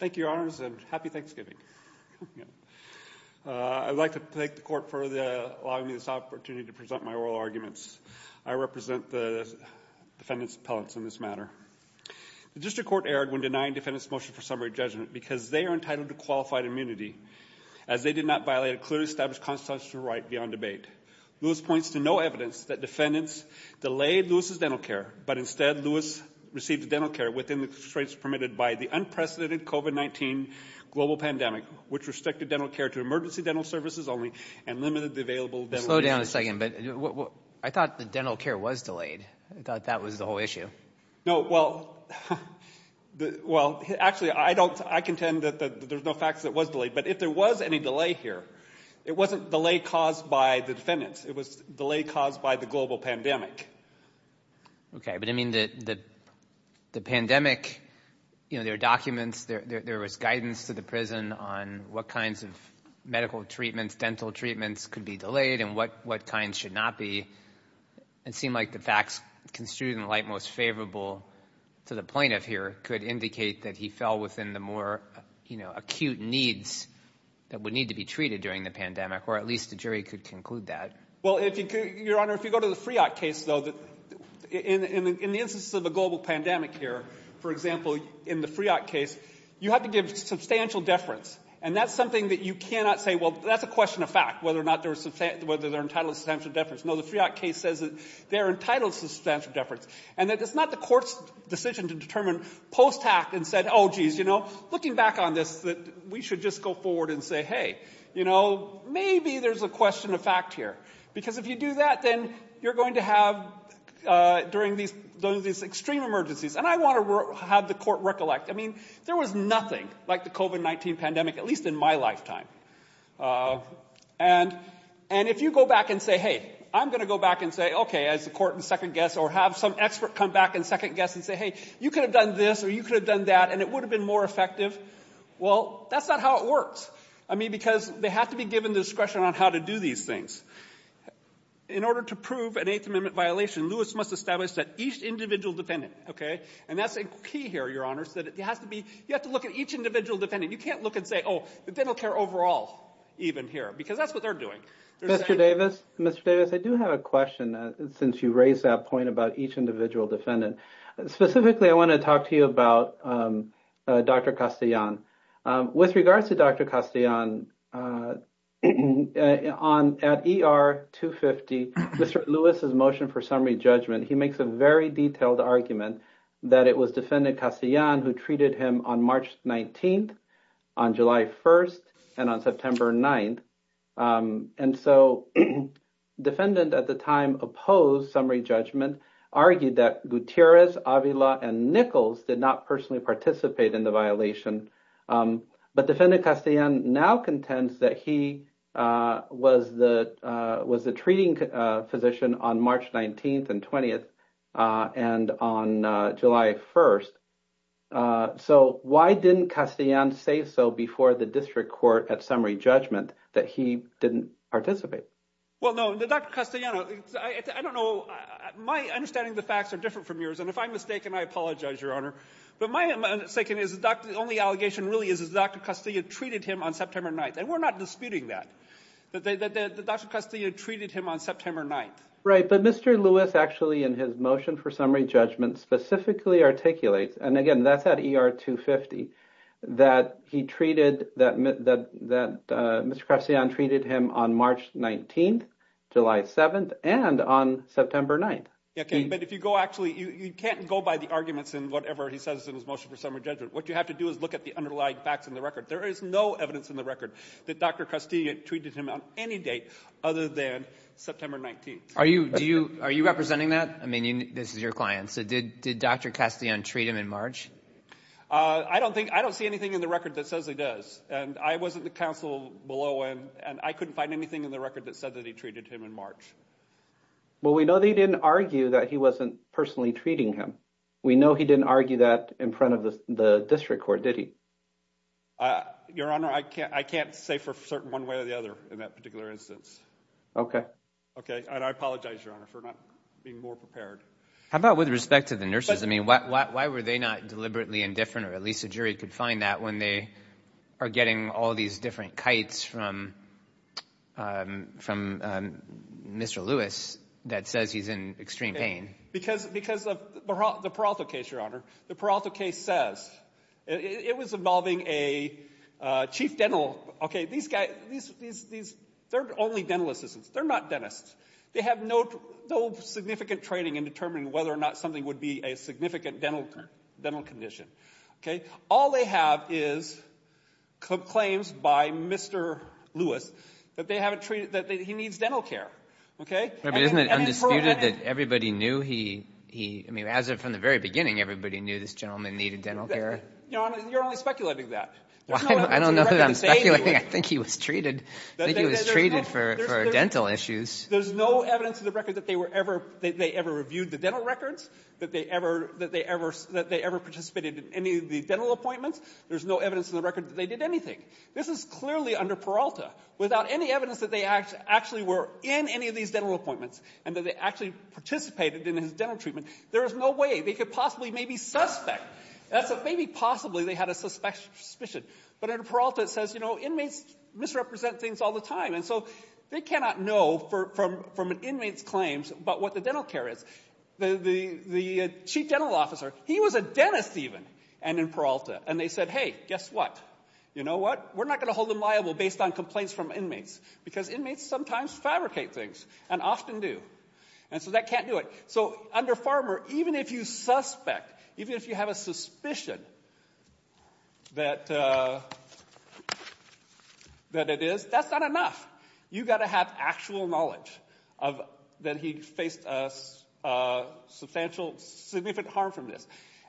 Thank you, Your Honors, and happy Thanksgiving. I would like to thank the Court for allowing me this opportunity to present my oral arguments. I represent the defendants' appellates in this matter. The District Court erred when denying defendants' motion for summary judgment because they are entitled to qualified immunity, as they did not violate a clearly established constitutional right beyond debate. Lewis points to no evidence that defendants delayed Lewis's dental care, but instead, Lewis received dental care within the constraints permitted by the unprecedented COVID-19 global pandemic, which restricted dental care to emergency dental services only and limited the available dental resources. Mr. Carney Slow down a second, but I thought the dental care was delayed. I thought that was the whole issue. Mr. Gutierrez No, well, actually, I contend that there's no fact that it was delayed, but if there was any delay here, it wasn't delay caused by the defendants. It was delay caused by the global pandemic. Mr. Carney Okay, but, I mean, the pandemic, you know, there are documents, there was guidance to the prison on what kinds of medical treatments, dental treatments could be delayed and what kinds should not be. It seemed like the facts construed in the light most favorable to the plaintiff here could indicate that he fell within the more, you know, acute needs that would need to be treated during the pandemic or at least the jury could conclude that. Mr. Gutierrez Well, Your Honor, if you go to the Friot case, though, in the instance of a global pandemic here, for example, in the Friot case, you have to give substantial deference and that's something that you cannot say, well, that's a question of fact, whether or not they're entitled to substantial deference. No, the Friot case says that they're entitled to substantial deference and that it's not the court's decision to determine post-act and said, oh, geez, you know, looking back on this, that we should just go forward and say, hey, you know, maybe there's a question of fact here, because if you do that, then you're going to have during these extreme emergencies. And I want to have the court recollect. I mean, there was nothing like the COVID-19 pandemic, at least in my lifetime. And if you go back and say, hey, I'm going to go back and say, OK, as the court and second guess or have some expert come back and second guess and say, hey, you could have done this or you could have done that and it would have been more effective, well, that's not how it works. I mean, because they have to be given discretion on how to do these things. In order to prove an Eighth Amendment violation, Lewis must establish that each individual defendant, OK, and that's a key here, Your Honor, is that it has to be, you have to look at each individual defendant. You can't look and say, oh, the dental care overall even here, because that's what they're doing. Mr. Davis, Mr. Davis, I do have a question, since you raised that point about each individual defendant. Specifically, I want to talk to you about Dr. Castellan. With regards to Dr. Castellan, at ER 250, Mr. Lewis's motion for summary judgment, he makes a very detailed argument that it was Defendant Castellan who treated him on March 19th, on July 1st, and on September 9th. And so Defendant at the time opposed summary judgment, argued that Gutierrez, Avila, and Nichols did not personally participate in the violation. But Defendant Castellan now contends that he was the treating physician on March 19th and 20th and on July 1st. So why didn't Castellan say so before the district court at summary judgment that he didn't participate? Well, no, Dr. Castellan, I don't know. My understanding of the facts are different from yours, and if I'm mistaken, I apologize, Your Honor. But my mistake is the only allegation really is that Dr. Castellan treated him on September 9th, and we're not disputing that, that Dr. Castellan treated him on September 9th. Right, but Mr. Lewis actually in his motion for summary judgment specifically articulates, and again, that's at ER 250, that he treated, that Mr. Castellan treated him on March 19th, July 7th, and on September 9th. But if you go actually, you can't go by the arguments in whatever he says in his motion for summary judgment. What you have to do is look at the underlying facts in the record. There is no evidence in the record that Dr. Castellan treated him on any date other than September 19th. Are you, do you, are you representing that? I mean, this is your client, so did Dr. Castellan treat him in March? I don't think, I don't see anything in the record that says he does, and I wasn't the counsel below him, and I couldn't find anything in the record that said that he treated him in March. Well, we know that he didn't argue that he wasn't personally treating him. We know he didn't argue that in front of the district court, did he? Your Honor, I can't say for certain one way or the other in that particular instance. Okay. Okay, and I apologize, Your Honor, for not being more prepared. How about with respect to the nurses? I mean, why were they not deliberately indifferent, or at least a jury could find that when they are getting all these different kites from Mr. Lewis that says he's in extreme pain? Because of the Peralta case, Your Honor. The Peralta case says, it was involving a chief dental, okay, these guys, these, these, they're only dental assistants. They're not dentists. They have no, no significant training in determining whether or not something would be a significant dental, dental condition. Okay? All they have is claims by Mr. Lewis that they haven't treated, that he needs dental care. Okay? I mean, isn't it undisputed that everybody knew he, he, I mean, as of from the very beginning, everybody knew this gentleman needed dental care. Your Honor, you're only speculating that. I don't know that I'm speculating. I think he was treated, I think he was treated for, for dental issues. There's no evidence in the record that they were ever, that they ever reviewed the dental records, that they ever, that they ever, that they ever participated in any of these dental appointments. There's no evidence in the record that they did anything. This is clearly under Peralta. Without any evidence that they actually were in any of these dental appointments, and that they actually participated in his dental treatment, there is no way they could possibly maybe suspect. That's a, maybe possibly they had a suspicion. But under Peralta it says, you know, inmates misrepresent things all the time. And so they cannot know from, from an inmate's claims about what the dental care is. The, the, the chief dental officer, he was a dentist even, and in Peralta. And they said, hey, guess what? You know what? We're not going to hold them liable based on complaints from inmates. Because inmates sometimes fabricate things, and often do. And so that can't do it. So under Farmer, even if you suspect, even if you have a suspicion that, that it is, that's not enough. You've got to have actual knowledge of, that he faced substantial, significant harm from this.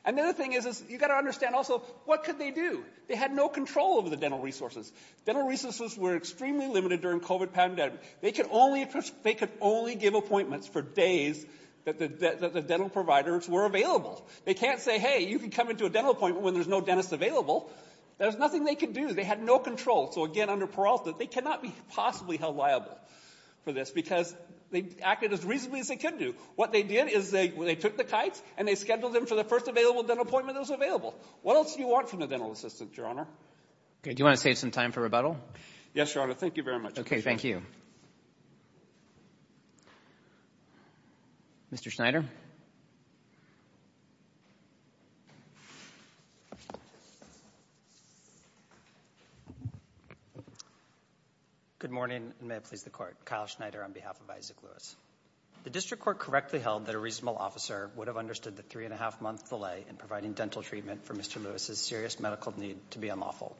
Another thing is, is you've got to understand also, what could they do? They had no control over the dental resources. Dental resources were extremely limited during the COVID pandemic. They could only, they could only give appointments for days that the, that the dental providers were available. They can't say, hey, you can come into a dental appointment when there's no dentist available. There's nothing they could do. They had no control. So again, under Peralta, they cannot be possibly held liable for this, because they acted as reasonably as they could do. What they did is they, they took the kites and they scheduled them for the first available dental appointment that was available. What else do you want from the dental assistant, Your Honor? Okay. Do you want to save some time for rebuttal? Yes, Your Honor. Thank you very much. Okay. Thank you. Mr. Schneider? Good morning, and may it please the Court. Kyle Schneider on behalf of Isaac Lewis. The district court correctly held that a reasonable officer would have understood the three-and-a-half month delay in providing dental treatment for Mr. Lewis's serious medical need to be unlawful.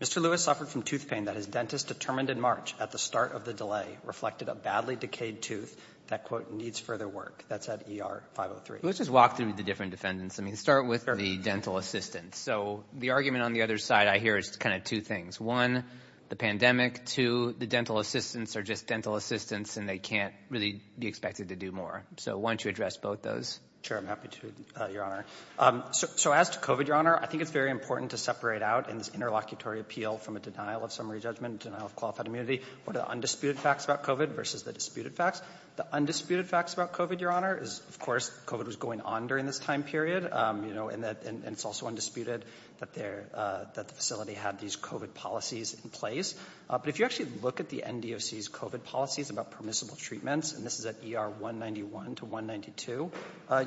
Mr. Lewis suffered from tooth pain that his dentist determined in March at the start of the delay reflected a badly decayed tooth that, quote, needs further work. That's at ER 503. Let's just walk through the different defendants. I mean, start with the dental assistant. So the argument on the other side I hear is kind of two things. One, the pandemic. Two, the dental assistants are just dental assistants and they can't really be expected to do more. So why don't you address both those? Sure. I'm happy to, Your Honor. So as to COVID, Your Honor, I think it's very important to separate out in this interlocutory appeal from a denial of summary judgment, denial of qualified immunity, what are the undisputed facts about COVID versus the disputed facts. The undisputed facts about COVID, Your Honor, is, of course, COVID was going on during this time period, you know, and it's also undisputed that the facility had these COVID policies in place. But if you actually look at the NDOC's COVID policies about permissible treatments, and this is at ER 191 to 192,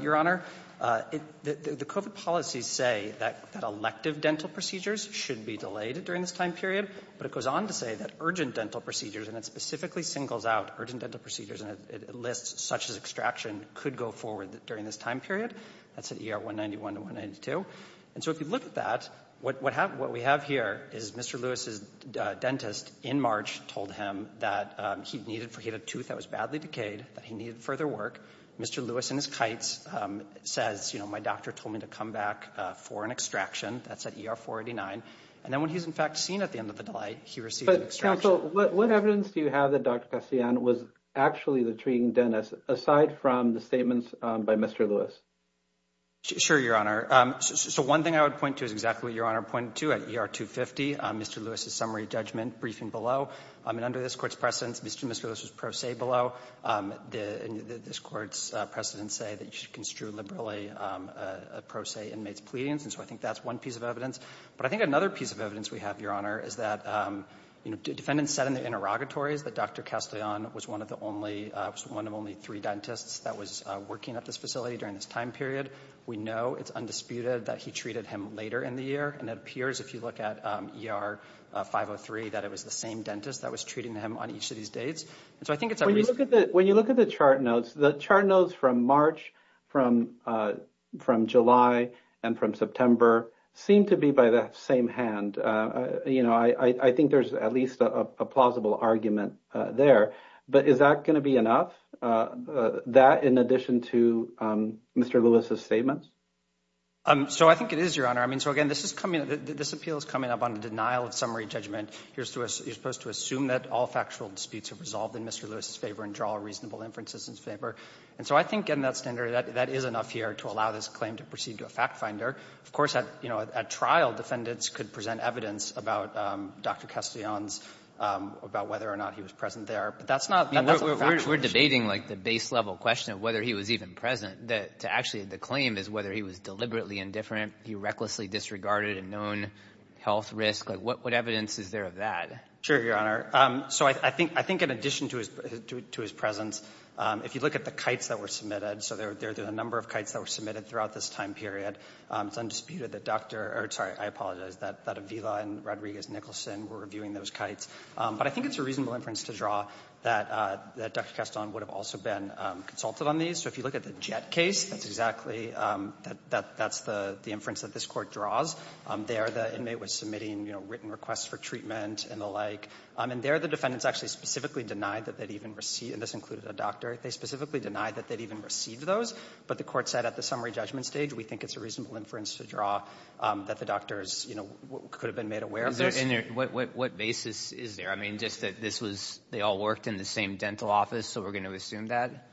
Your Honor, the COVID policies say that elective dental procedures should be delayed during this time period. But it goes on to say that urgent dental procedures, and it specifically singles out urgent dental procedures and it lists such as extraction could go forward during this time period. That's at ER 191 to 192. And so if you look at that, what we have here is Mr. Lewis's dentist in March told him that he had a tooth that was badly decayed, that he needed further work. Mr. Lewis in his kites says, you know, my doctor told me to come back for an extraction. That's at ER 489. And then when he's in fact seen at the end of the delay, he received an extraction. But counsel, what evidence do you have that Dr. Kassian was actually the treating dentist aside from the statements by Mr. Lewis? Sure, Your Honor. So one thing I would point to is exactly what Your Honor pointed to at ER 250, Mr. Lewis's summary judgment briefing below. And under this Court's precedence, Mr. Lewis's pro se below, this Court's precedence say that you should construe liberally pro se inmates' pleadings. And so I think that's one piece of evidence. But I think another piece of evidence we have, Your Honor, is that, you know, defendants said in their interrogatories that Dr. Kassian was one of the only one of only three dentists that was working at this facility during this time period. We know it's at ER 503 that it was the same dentist that was treating him on each of these dates. And so I think it's a... When you look at the chart notes, the chart notes from March, from July and from September seem to be by the same hand. You know, I think there's at least a plausible argument there. But is that going to be enough? That in addition to Mr. Lewis's statements? So I think it is, Your Honor. I mean, so again, this is coming up, this appeal is coming up on the denial of summary judgment. You're supposed to assume that all factual disputes have resolved in Mr. Lewis's favor and draw reasonable inferences in his favor. And so I think getting that standard, that is enough here to allow this claim to proceed to a factfinder. Of course, at trial, defendants could present evidence about Dr. Kassian's, about whether or not he was present there. But that's not a factual question. I mean, we're debating, like, the base-level question of whether he was even present to actually the claim is whether he was deliberately indifferent, he recklessly disregarded a known health risk. Like, what evidence is there of that? Sure, Your Honor. So I think in addition to his presence, if you look at the kites that were submitted, so there are a number of kites that were submitted throughout this time period. It's undisputed that Dr. or, sorry, I apologize, that Avila and Rodriguez Nicholson were reviewing those kites. But I think it's a reasonable inference to draw that Dr. Kassian would have also been consulted on these. So if you look at the Jett case, that's exactly, that's the inference that this Court draws. There, the inmate was submitting, you know, written requests for treatment and the like. And there, the defendants actually specifically denied that they'd even receive, and this included a doctor, they specifically denied that they'd even receive those. But the Court said at the summary judgment stage, we think it's a reasonable inference to draw that the doctors, you know, could have been made aware of this. What basis is there? I mean, just that this was, they all worked in the same dental office, so we're going to assume that?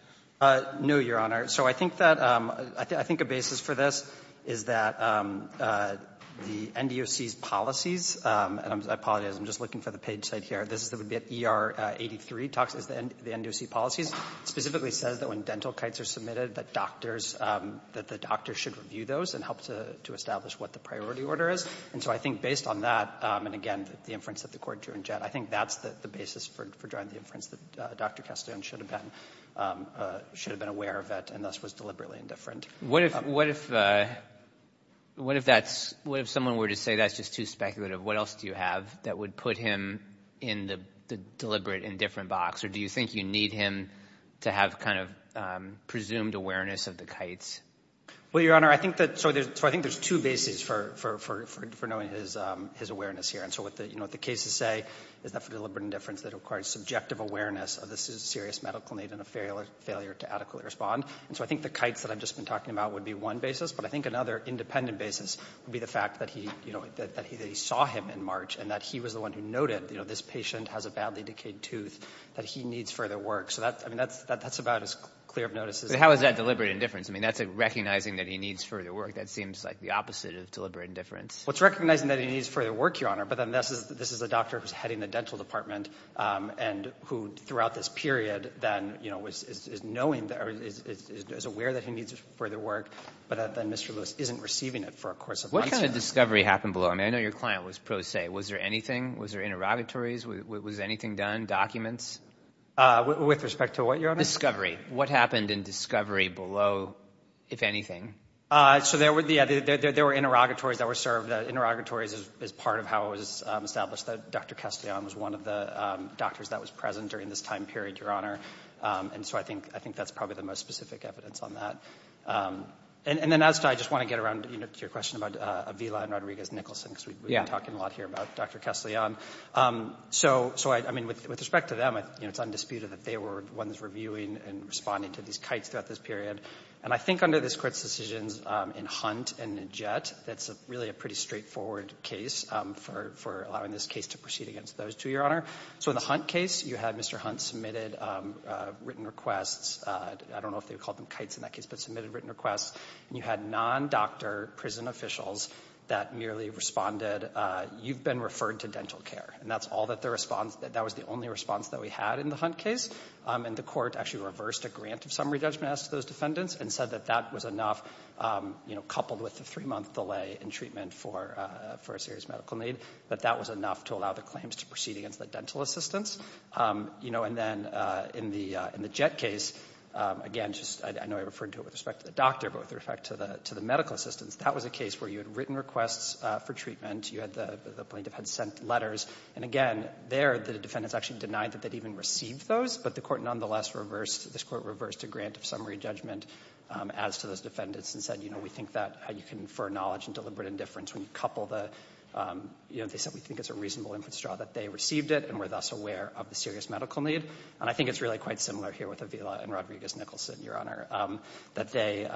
No, Your Honor. So I think that, I think a basis for this is that the NDOC's policies, and I apologize, I'm just looking for the page site here, this is the ER83 talks, the NDOC policies, specifically says that when dental kites are submitted, that doctors, that the doctors should review those and help to establish what the priority order is. And so I think based on that, and again, the inference that the Court drew in Jett, I think that's the basis for drawing the inference that Dr. Castiglione should have been, should have been aware of it, and thus was deliberately indifferent. What if, what if, what if that's, what if someone were to say that's just too speculative? What else do you have that would put him in the deliberate indifferent box? Or do you think you need him to have kind of presumed awareness of the kites? Well, Your Honor, I think that, so there's, so I think there's two bases for, for, for knowing his, his awareness here. And so what the, you know, what the cases say is that for deliberate indifference that requires subjective awareness of this is a serious medical need and a failure to adequately respond. And so I think the kites that I've just been talking about would be one basis. But I think another independent basis would be the fact that he, you know, that he, that he saw him in March and that he was the one who noted, you know, this patient has a badly decayed tooth, that he needs further work. So that, I mean, that's, that's about as clear of notice as How is that deliberate indifference? I mean, that's like recognizing that he needs further work. That seems like the opposite of deliberate indifference. Well, it's recognizing that he needs further work, Your Honor, but then this is, this is a doctor who's heading the dental department and who throughout this period then, you know, is, is, is knowing that, or is, is, is aware that he needs further work, but then Mr. Lewis isn't receiving it for a course of months. What kind of discovery happened below? I mean, I know your client was pro se. Was there anything? Was there interrogatories? Was, was anything done? With, with respect to what, Your Honor? Discovery. What happened in discovery below, if anything? So there were, yeah, there, there, there were interrogatories that were served. Interrogatories is, is part of how it was established that Dr. Castellan was one of the doctors that was present during this time period, Your Honor. And so I think, I think that's probably the most specific evidence on that. And, and then as to, I just want to get around, you know, to your question about Avila and Rodriguez-Nicholson, because we've been talking a lot here about Dr. Castellan. So, so I, I mean, with, with respect to them, you know, it's undisputed that they were ones reviewing and responding to these kites throughout this period. And I think under this Court's decisions, in Hunt and Najet, that's really a pretty straightforward case for, for allowing this case to proceed against those two, Your Honor. So in the Hunt case, you had Mr. Hunt submitted written requests. I don't know if they called them kites in that case, but submitted written requests. And you had non-doctor prison officials that merely responded, you've been referred to dental care. And that's all that the response, that was the only response that we had in the Hunt case. And the Court actually reversed a grant of summary judgment as to those defendants and said that that was enough, you know, coupled with the three-month delay in treatment for, for a serious medical need. But that was enough to allow the claims to proceed against the dental assistants. You know, and then in the, in the Jett case, again, just, I know I referred to it with respect to the doctor, but with respect to the, to the medical assistants, that was a case where you had written requests for treatment. You had the, the plaintiff had sent letters. And again, there, the defendants actually denied that they'd even received those. But the Court nonetheless reversed, this Court reversed a grant of summary judgment as to those defendants and said, you know, we think that you can infer knowledge and deliberate indifference when you couple the, you know, they said we think it's a reasonable inference draw that they received it and were thus aware of the serious medical need. And I think it's really quite similar here with Avila and Rodriguez-Nicholson, Your Honor, that they,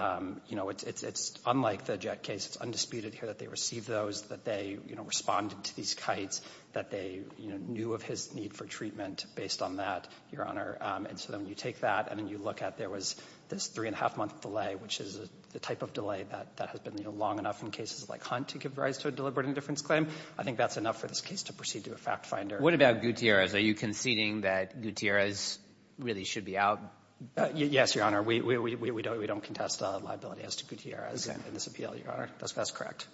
you know, it's, it's unlike the Jett case. It's undisputed here that they received those, that they, you know, responded to these kites, that they, you know, knew of his need for treatment based on that, Your Honor. And so then you take that, and then you look at there was this three-and-a-half-month delay, which is the type of delay that, that has been, you know, long enough in cases like Hunt to give rise to a deliberate indifference claim. I think that's enough for this case to proceed to a fact finder. What about Gutierrez? Are you conceding that Gutierrez really should be out? Yes, Your Honor. We, we, we don't, we don't contest a liability as to Gutierrez in this appeal, Your Honor. That's, that's correct.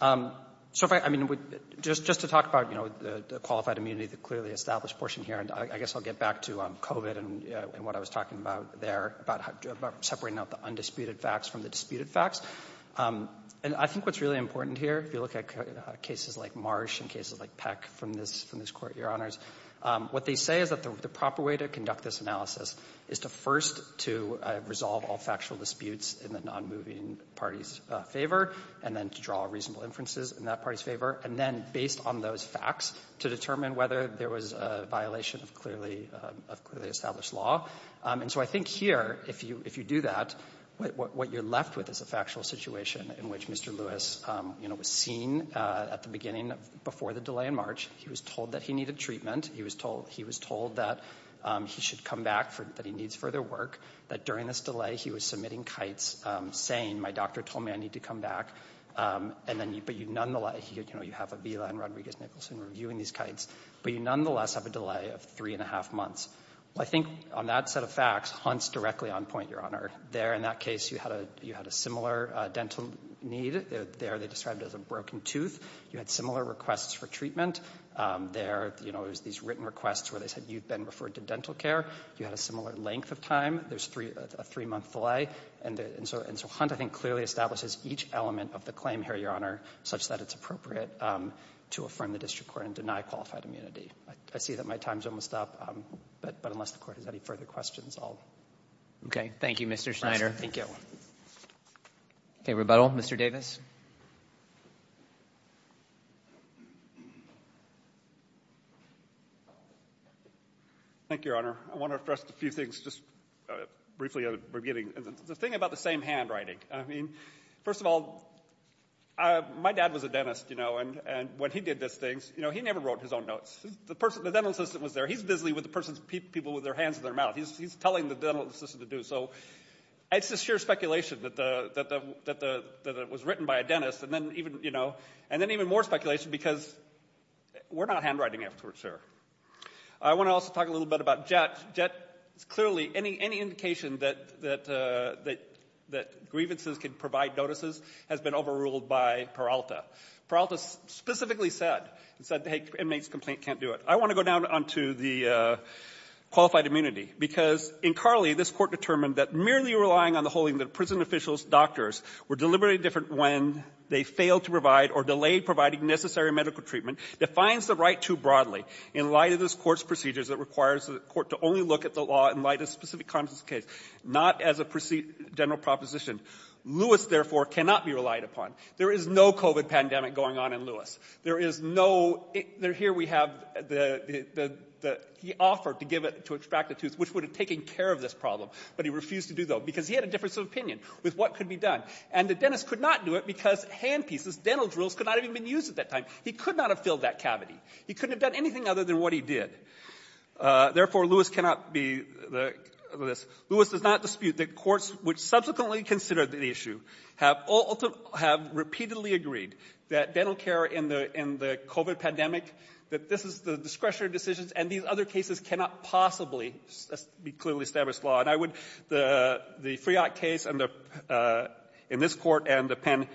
So if I, I mean, just, just to talk about, you know, the, the qualified immunity, the clearly established portion here, and I, I guess I'll get back to COVID and, and what I was talking about there, about how, about separating out the undisputed facts from the disputed facts. And I think what's really important here, if you look at cases like Marsh and cases like Peck from this, from this Court, Your Honors, what they say is that the, the proper way to conduct this analysis is to first to resolve all factual disputes in the nonmoving party's favor, and then to draw reasonable inferences in that party's favor, and then, based on those facts, to determine whether there was a violation of clearly, of clearly established law. And so I think here, if you, if you do that, what, what, what you're left with is a factual situation in which Mr. Lewis, you know, was seen at the beginning of, before the delay in March. He was told that he needed treatment. He was told, he was told that he should come back for, that he needs further work. That during this delay, he was submitting kites saying, my doctor told me I need to come back. And then you, but you nonetheless, you know, you have Avila and Rodriguez-Nicholson reviewing these kites, but you nonetheless have a delay of three and a half months. Well, I think on that set of facts, Hunt's directly on point, Your Honor. There, in that case, you had a, you had a similar dental need. There, they described it as a broken tooth. You had similar requests for treatment. There, you know, it was these written requests where they said, you've been referred to dental care. You had a similar length of time. There's three, a three-month delay. And so, and so Hunt, I think, clearly establishes each element of the claim here, Your Honor, such that it's appropriate to affirm the district court and deny qualified immunity. I see that my time's almost up, but, but unless the Court has any further questions, I'll. Robertson. Okay. Thank you, Mr. Schneider. Schneider. Thank you. Okay. Rebuttal. Mr. Davis. Thank you, Your Honor. I want to address a few things just briefly at the beginning. The thing about the same handwriting, I mean, first of all, I, my dad was a dentist, you know, and, and when he did these things, you know, he never wrote his own notes. The person, the dental assistant was there. He's busy with the person's people, with their hands and their mouth. He's, he's telling the dental assistant to do so. It's just sheer speculation that the, that the, that the, that it was written by a dentist. And then even, you know, and then even more speculation because we're not handwriting afterwards here. I want to also talk a little bit about Jett. Jett, it's clearly any, any indication that, that, that, that grievances can provide notices has been overruled by Peralta. Peralta specifically said, said, hey, this inmate's complaint can't do it. I want to go down onto the qualified immunity because in Carly, this court determined that merely relying on the holding that prison officials, doctors were deliberately different when they failed to provide or delayed providing necessary medical treatment defines the right too broadly in light of this court's procedures that requires the court to only look at the law in light of specific context case, not as a general proposition. Lewis therefore cannot be relied upon. There is no COVID pandemic going on in Lewis. There is no, there, here we have the, the, the, the, he offered to give it, to extract the tooth, which would have taken care of this problem, but he refused to do so because he had a difference of opinion with what could be done. And the dentist could not do it because hand pieces, dental drills could not have even been used at that time. He could not have filled that cavity. He couldn't have done anything other than what he did. Therefore, Lewis cannot be the, this, Lewis does not dispute that courts which subsequently considered the issue have ultimately, have repeatedly agreed that dental care in the, in the COVID pandemic, that this is the discretionary decisions and these other cases cannot possibly be clearly established law. And I would, the, the Friot case and the, in this court and the pen,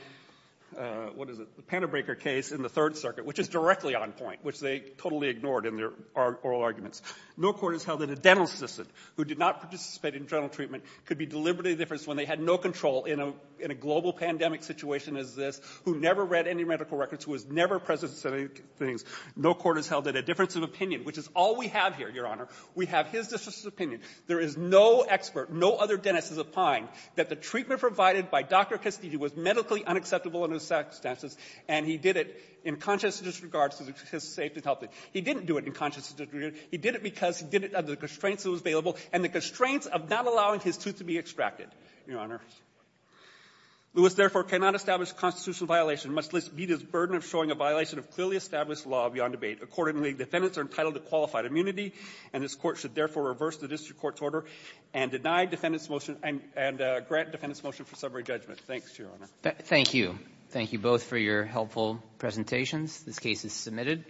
what is it? The Panabreaker case in the third circuit, which is directly on point, which they totally ignored in their oral arguments. No court has held that a dental assistant who did not participate in general treatment could be deliberately different when they had no control in a, in a global pandemic situation as this, who never read any medical records, who was never present to say things. No court has held that a difference of opinion, which is all we have here, Your Honor, we have his difference of opinion. There is no expert, no other dentist is opined that the treatment provided by Dr. Castillo was medically unacceptable in those circumstances, and he did it in conscious disregard to his safety and health. He didn't do it in conscious disregard. He did it because he did it under the constraints that was available and the constraints of not allowing his tooth to be extracted, Your Honor. Lewis, therefore, cannot establish a constitutional violation, much less meet his burden of showing a violation of clearly established law beyond debate. Accordingly, defendants are entitled to qualified immunity, and this court should therefore reverse the district court's order and deny defendants' motion and grant defendants' motion for summary judgment. Thanks, Your Honor. Thank you. Thank you both for your helpful presentations. This case is submitted.